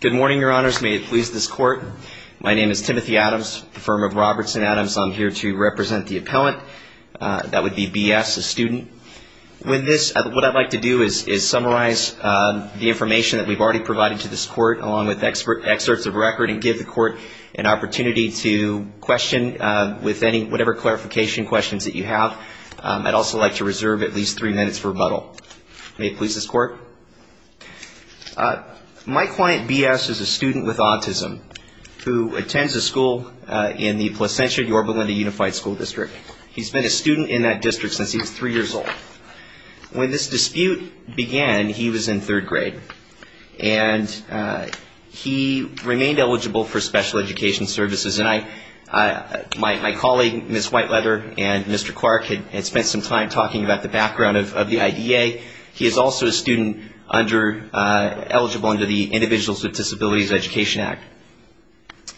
Good morning, Your Honors. May it please this Court. My name is Timothy Adams, the firm of Roberts and Adams. I'm here to represent the appellant. That would be B.S., a student. With this, what I'd like to do is summarize the information that we've already provided to this Court, along with excerpts of record, and give the Court an opportunity to question with whatever clarification questions that you have. I'd like to begin by clarifying that my client, B.S., is a student with autism who attends a school in the Placentia-Yorba Linda Unified School District. He's been a student in that district since he was three years old. When this dispute began, he was in third grade. And he remained eligible for special education services. And I, my colleague, Ms. Whiteleather, and Mr. Clark had spent some time talking about the Individuals with Disabilities Education Act.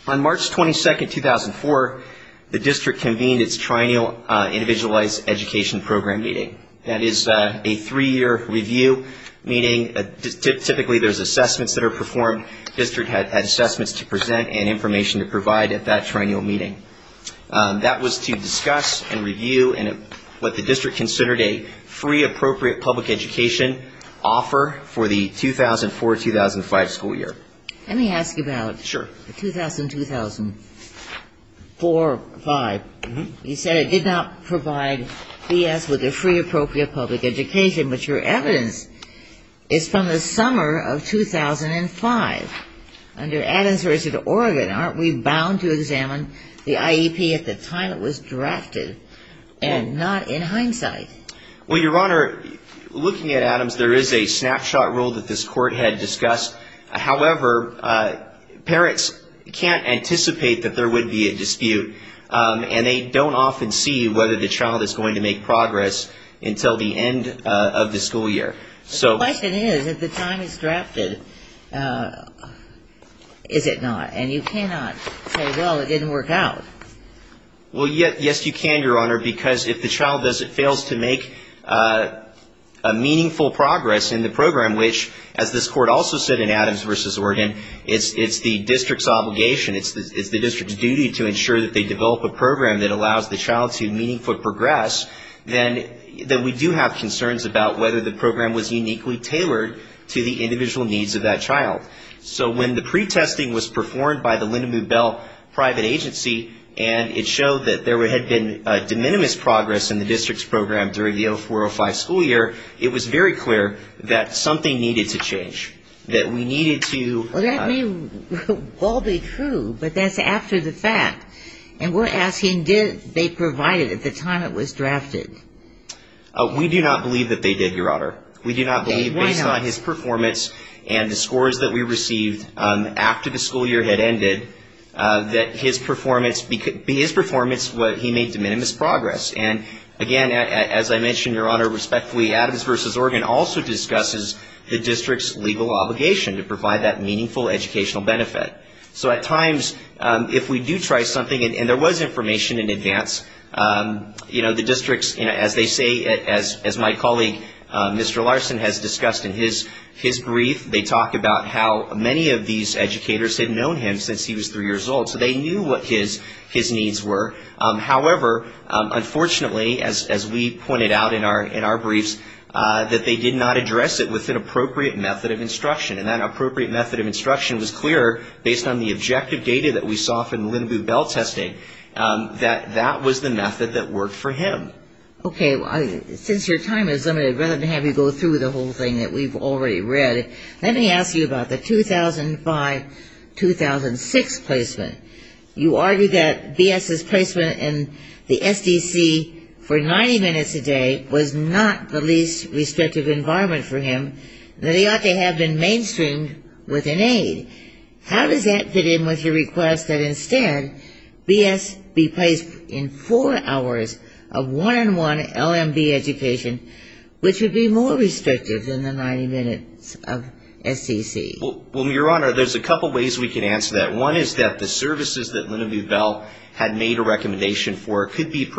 On March 22, 2004, the district convened its Triennial Individualized Education Program meeting. That is a three-year review meeting. Typically, there's assessments that are performed. The district had assessments to present and information to provide at that triennial meeting. That was to discuss and review what the district considered a free, appropriate public education offer for the 2004-2005 school year. Let me ask you about the 2000-2004-5. You said it did not provide B.S. with a free, appropriate public education. But your evidence is from the summer of 2005 under Adams v. Oregon. Aren't we bound to examine the IEP at the time it was drafted and not in hindsight? Well, Your Honor, looking at Adams, there is a snapshot rule that this Court had discussed. However, parents can't anticipate that there would be a dispute. And they don't often see whether the child is going to make progress until the end of the school year. The question is, if the time is drafted, is it not? And you cannot say, well, it didn't work out. Well, yes, you can, Your Honor, because if the child fails to make a meaningful progress in the program, which, as this Court also said in Adams v. Oregon, it's the district's obligation, it's the district's duty to ensure that they develop a program that allows the child to meaningful progress, then we do have concerns about whether the program was uniquely tailored to the individual needs of that child. So when the pretesting was performed by the Linda Moobell private agency, and it showed that there had been de minimis progress in the district's program during the 2004-05 school year, it was very clear that something needed to change, that we needed to... Well, that may well be true, but that's after the fact. And we're asking, did they provide it at the time it was drafted? We do not believe that they did, Your Honor. We do not believe, based on his performance and the scores that we received after the school year had ended, that his performance, his performance, what he made de minimis progress. And again, as I mentioned, Your Honor, respectfully, Adams v. Oregon also discusses the district's legal obligation to provide that meaningful educational benefit. So at times, if we do try something, and there was information in advance, you know, the district's, you know, as they say, as my colleague, Mr. Larson, has discussed in his brief, they talk about how many of these educators had known him since he was three years old. So they knew what his needs were. However, unfortunately, as we pointed out in our briefs, that they did not address it with an appropriate method of instruction. And that appropriate method of instruction was clear, based on the objective data that we saw from Lin-Bubel testing, that that was the method that worked for him. Okay. Since your time is limited, rather than have you go through the whole thing that we've already read, let me ask you about the 2005-2006 placement. You argue that B.S.'s placement in the S.D.C. for 90 minutes a day was not the least restrictive environment for him, and that he had to have been mainstreamed with an aide. How does that fit in with your request that instead, B.S. be placed in four hours of one-on-one LMB education, which would be more restrictive than the 90 minutes of S.D.C.? Well, Your Honor, there's a couple ways we can answer that. One is that the services that Lin-Bubel had made a recommendation for could be picked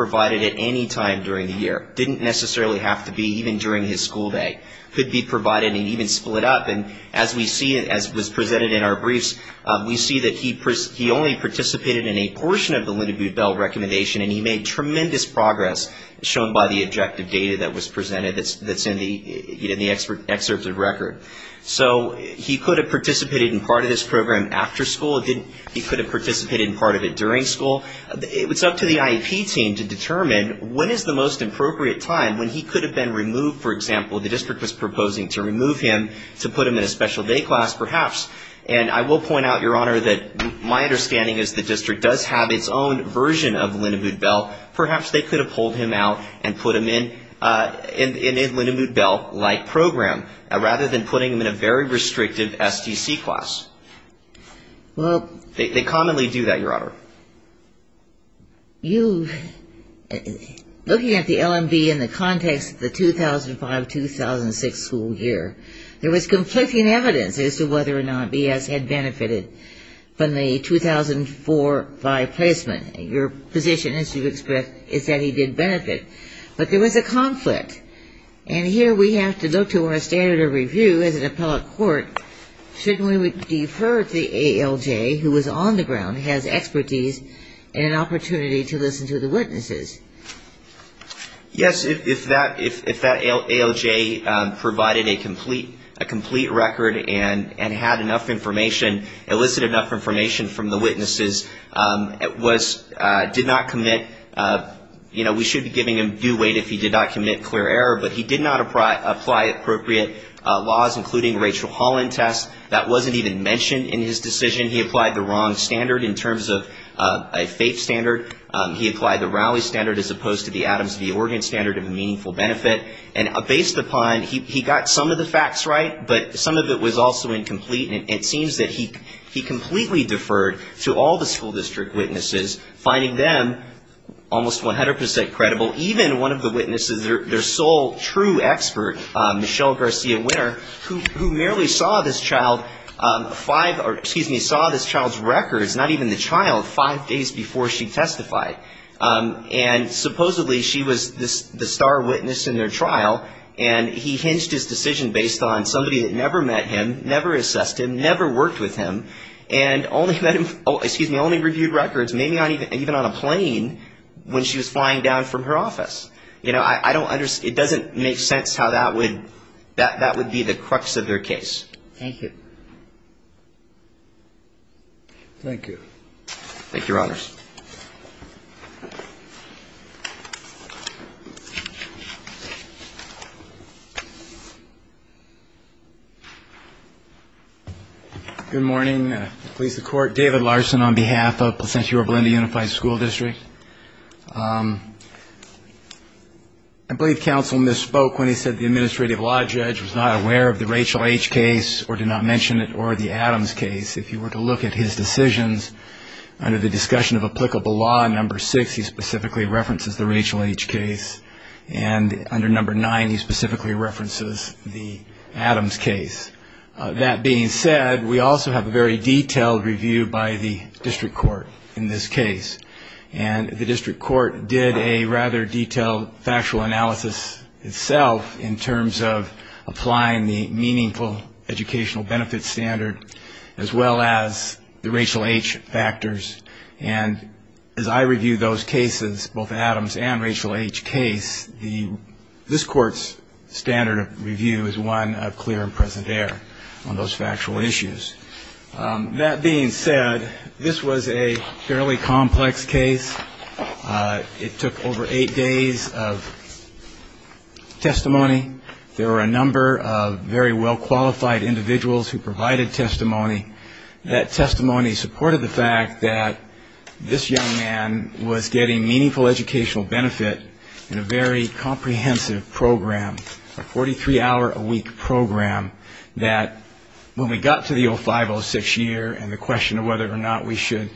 up. And as we see, as was presented in our briefs, we see that he only participated in a portion of the Lin-Bubel recommendation, and he made tremendous progress, shown by the objective data that was presented that's in the excerpts of record. So he could have participated in part of this program after school. He could have participated in part of it during school. It's up to the IEP team to determine when is the most appropriate time when he could have been removed. For example, the district was proposing to remove him to put him in a special day class perhaps. And I will point out, Your Honor, that my understanding is the district does have its own version of Lin-Bubel. Perhaps they could have pulled him out and put him in a Lin-Bubel-like program, rather than putting him in a very restrictive S.D.C. class. They commonly do that, Your Honor. Looking at the L.M.B. in the context of the 2005-2006 school year, there was conflicting evidence as to whether or not B.S. had benefited from the 2004-05 placement. Your position, as you express, is that he did benefit. But there was a conflict. And here we have to look to our standard of compliance. Yes. If that ALJ provided a complete record and had enough information, elicited enough information from the witnesses, did not commit, you know, we should be giving him due weight if he did not commit clear error. But he did not apply appropriate laws, including Rachel Holland tests. That wasn't even mentioned in his decision. He applied the wrong standard in terms of a faith standard. He applied the Rowley standard as opposed to the Adams v. Oregon standard of meaningful benefit. And based upon, he got some of the facts right, but some of it was also incomplete. And it seems that he completely deferred to all the school district witnesses, finding them almost 100 percent credible, even one of the witnesses, their sole true expert, Michelle Garcia-Winner, who merely saw this child five or, excuse me, saw this child's records, not even the child, five days before she testified. And supposedly she was the star witness in their trial, and he hinged his decision based on somebody that never met him, never assessed him, never worked with him, and only met him, excuse me, only reviewed records, maybe even on a plane when she was flying down from her office. You know, I don't understand, it doesn't make sense how that would, that would be the crux of their case. Thank you. Thank you, Your Honors. Good morning. Police, the court. David Larson on behalf of Placentia-Roberta Unified School District. I believe counsel misspoke when he said the administrative law judge was not aware of the Rachel H. case or did not mention it or the Adams case. If you were to look at his decisions under the number six, he specifically references the Rachel H. case, and under number nine, he specifically references the Adams case. That being said, we also have a very detailed review by the district court in this case, and the district court did a rather detailed factual analysis itself in terms of Adams and Rachel H. case. This court's standard of review is one of clear and present error on those factual issues. That being said, this was a fairly complex case. It took over eight days of testimony. There were a number of very well-qualified individuals who provided testimony. That testimony supported the fact that this young man was getting meaningful educational benefit in a very comprehensive program, a 43-hour-a-week program, that when we got to the 05-06 year and the question of whether or not we should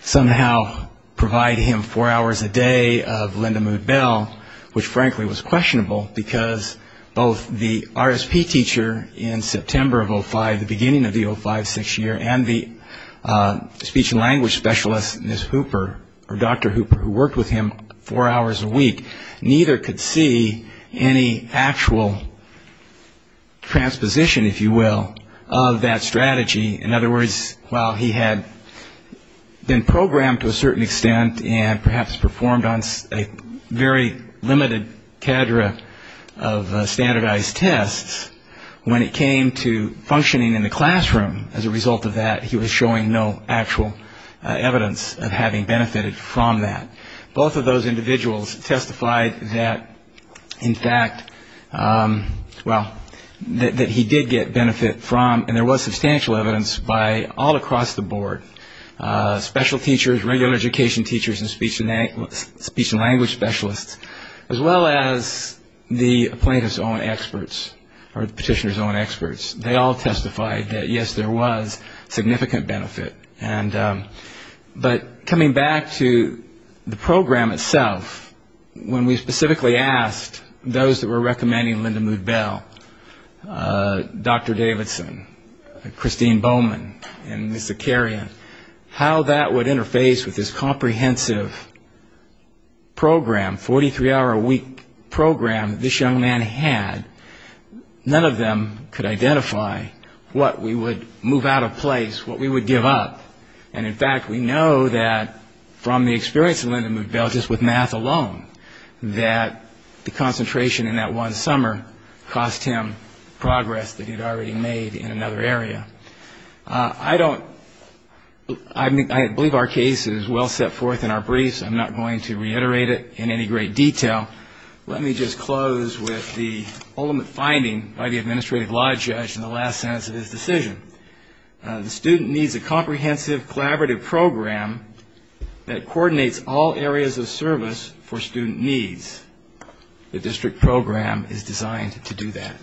somehow provide him four hours a day of Linda Mood Bell, which frankly was questionable, because both the RSP teacher in September of 05, the beginning of the 05-06 year, and the RSP teacher in September of 05, the speech and language specialist, Ms. Hooper, or Dr. Hooper, who worked with him four hours a week, neither could see any actual transposition, if you will, of that strategy. In other words, while he had been programmed to a certain extent and perhaps performed on a very limited cadre of standardized tests, when it came to functioning in the classroom as a result of that, he was showing no actual evidence of having benefited from that. Both of those individuals testified that, in fact, well, that he did get benefit from, and there was substantial evidence, by all across the board, special teachers, regular education teachers and speech and language specialists, as well as the plaintiff's own experts. And the plaintiff's own experts, or the petitioner's own experts, they all testified that, yes, there was significant benefit. But coming back to the program itself, when we specifically asked those that were recommending Linda Mood Bell, Dr. Davidson, Christine Bowman, and Ms. Zakarian, how that would interface with this comprehensive program, 43-hour-a-week program that this young man had, and how that would be used in the classroom, and how that would be used in the classroom, none of them could identify what we would move out of place, what we would give up. And, in fact, we know that from the experience of Linda Mood Bell, just with math alone, that the concentration in that one summer cost him progress that he had already made in another area. I don't, I believe our case is well set forth in our briefs. I'm not going to reiterate it in any great detail. Let me just close with the ultimate final finding by the administrative law judge in the last sentence of his decision. The student needs a comprehensive, collaborative program that coordinates all areas of service for student needs. The district program is designed to do that.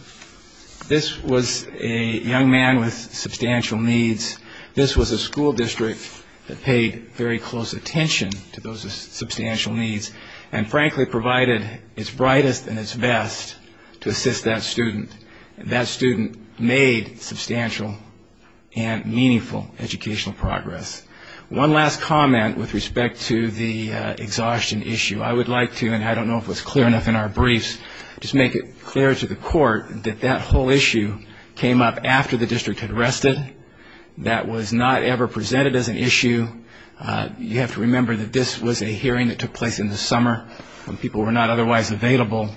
This was a young man with substantial needs. This was a school district that paid very close attention to those with substantial needs, and frankly provided its brightest and its best to assist that student. That student made substantial and meaningful educational progress. One last comment with respect to the exhaustion issue. I would like to, and I don't know if it was clear enough in our briefs, just make it clear to the court that that whole issue came up after the district had rested. That was not ever presented as an issue. You have to remember that this was a hearing that took place in the summer when people were not otherwise available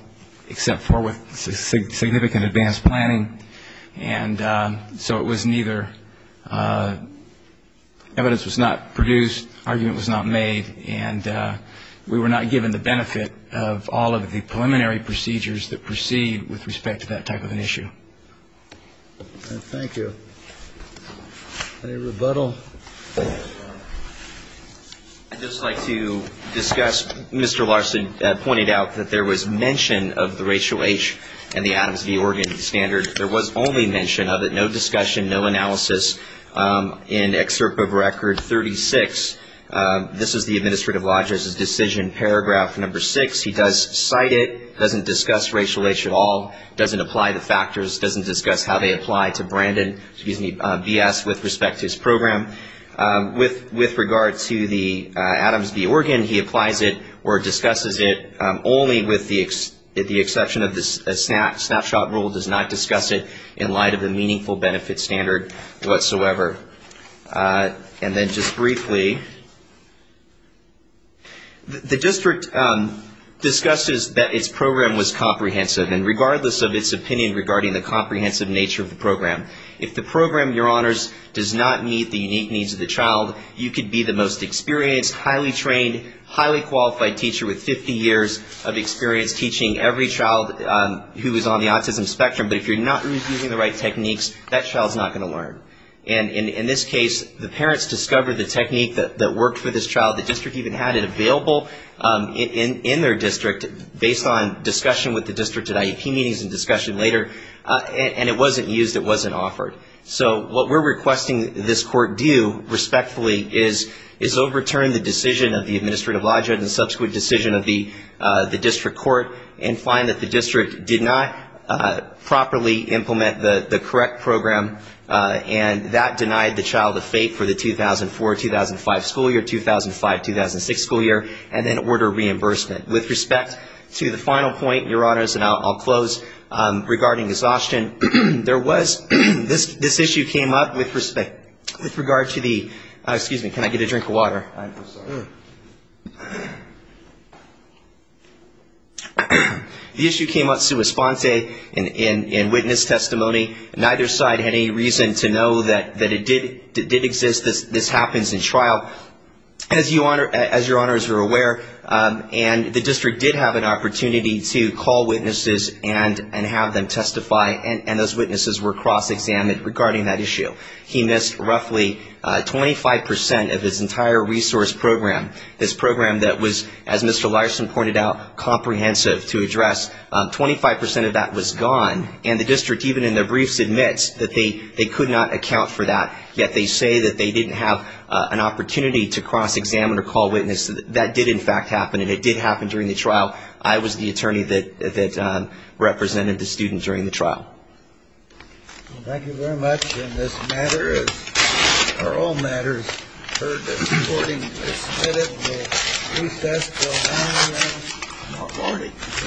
except for with significant advanced planning, and so it was neither, evidence was not produced, argument was not made, and we were not given the benefit of all of the preliminary procedures that proceed with respect to that type of an issue. Thank you. Any rebuttal? I'd just like to discuss, Mr. Larson pointed out that there was mention of the racial age and the Adams v. Oregon standard. There was only mention of it, no discussion, no analysis. In excerpt of record 36, this is the administrative lodger's decision paragraph number 6, he does not cite it, doesn't discuss racial age at all, doesn't apply the factors, doesn't discuss how they apply to Brandon, excuse me, B.S. with respect to his program. With regard to the Adams v. Oregon, he applies it or discusses it only with the exception of the snapshot rule, does not discuss it in light of the meaningful benefit standard whatsoever. And then just briefly, the district discusses the fact that there was no mention of the racial age and the Adams v. Oregon standard. And that its program was comprehensive. And regardless of its opinion regarding the comprehensive nature of the program, if the program, Your Honors, does not meet the unique needs of the child, you could be the most experienced, highly trained, highly qualified teacher with 50 years of experience teaching every child who is on the autism spectrum. But if you're not using the right techniques, that child's not going to learn. And in this case, the parents discovered the technique that worked for this child. The district even had it available in their district based on discussion with the district at IEP meetings and discussion later. And it wasn't used, it wasn't offered. So what we're requesting this court do, respectfully, is overturn the decision of the Administrative Lodgehood and the subsequent decision of the district court and find that the district did not properly implement the correct program. And that denied the child a fate for the 2004-2005 school year, 2005-2006 school year, and then order reimbursement. With respect to the child's disability, with respect to the final point, Your Honors, and I'll close regarding exhaustion, there was, this issue came up with respect, with regard to the, excuse me, can I get a drink of water? The issue came up sui sponte in witness testimony. Neither side had any reason to know that it did exist, this happens in trial. As Your Honors are aware, and the district did not have an opportunity to call witnesses and have them testify, and those witnesses were cross-examined regarding that issue. He missed roughly 25 percent of his entire resource program, this program that was, as Mr. Larson pointed out, comprehensive to address. Twenty-five percent of that was gone, and the district, even in their briefs, admits that they could not account for that, yet they say that they didn't have an opportunity to cross-examine or call witnesses. That did in fact happen, and it did happen during the trial. I was the attorney that represented the student during the trial. Thank you very much, and this matter is, or all matters, heard that the reporting is submitted. We'll recess until 9 a.m.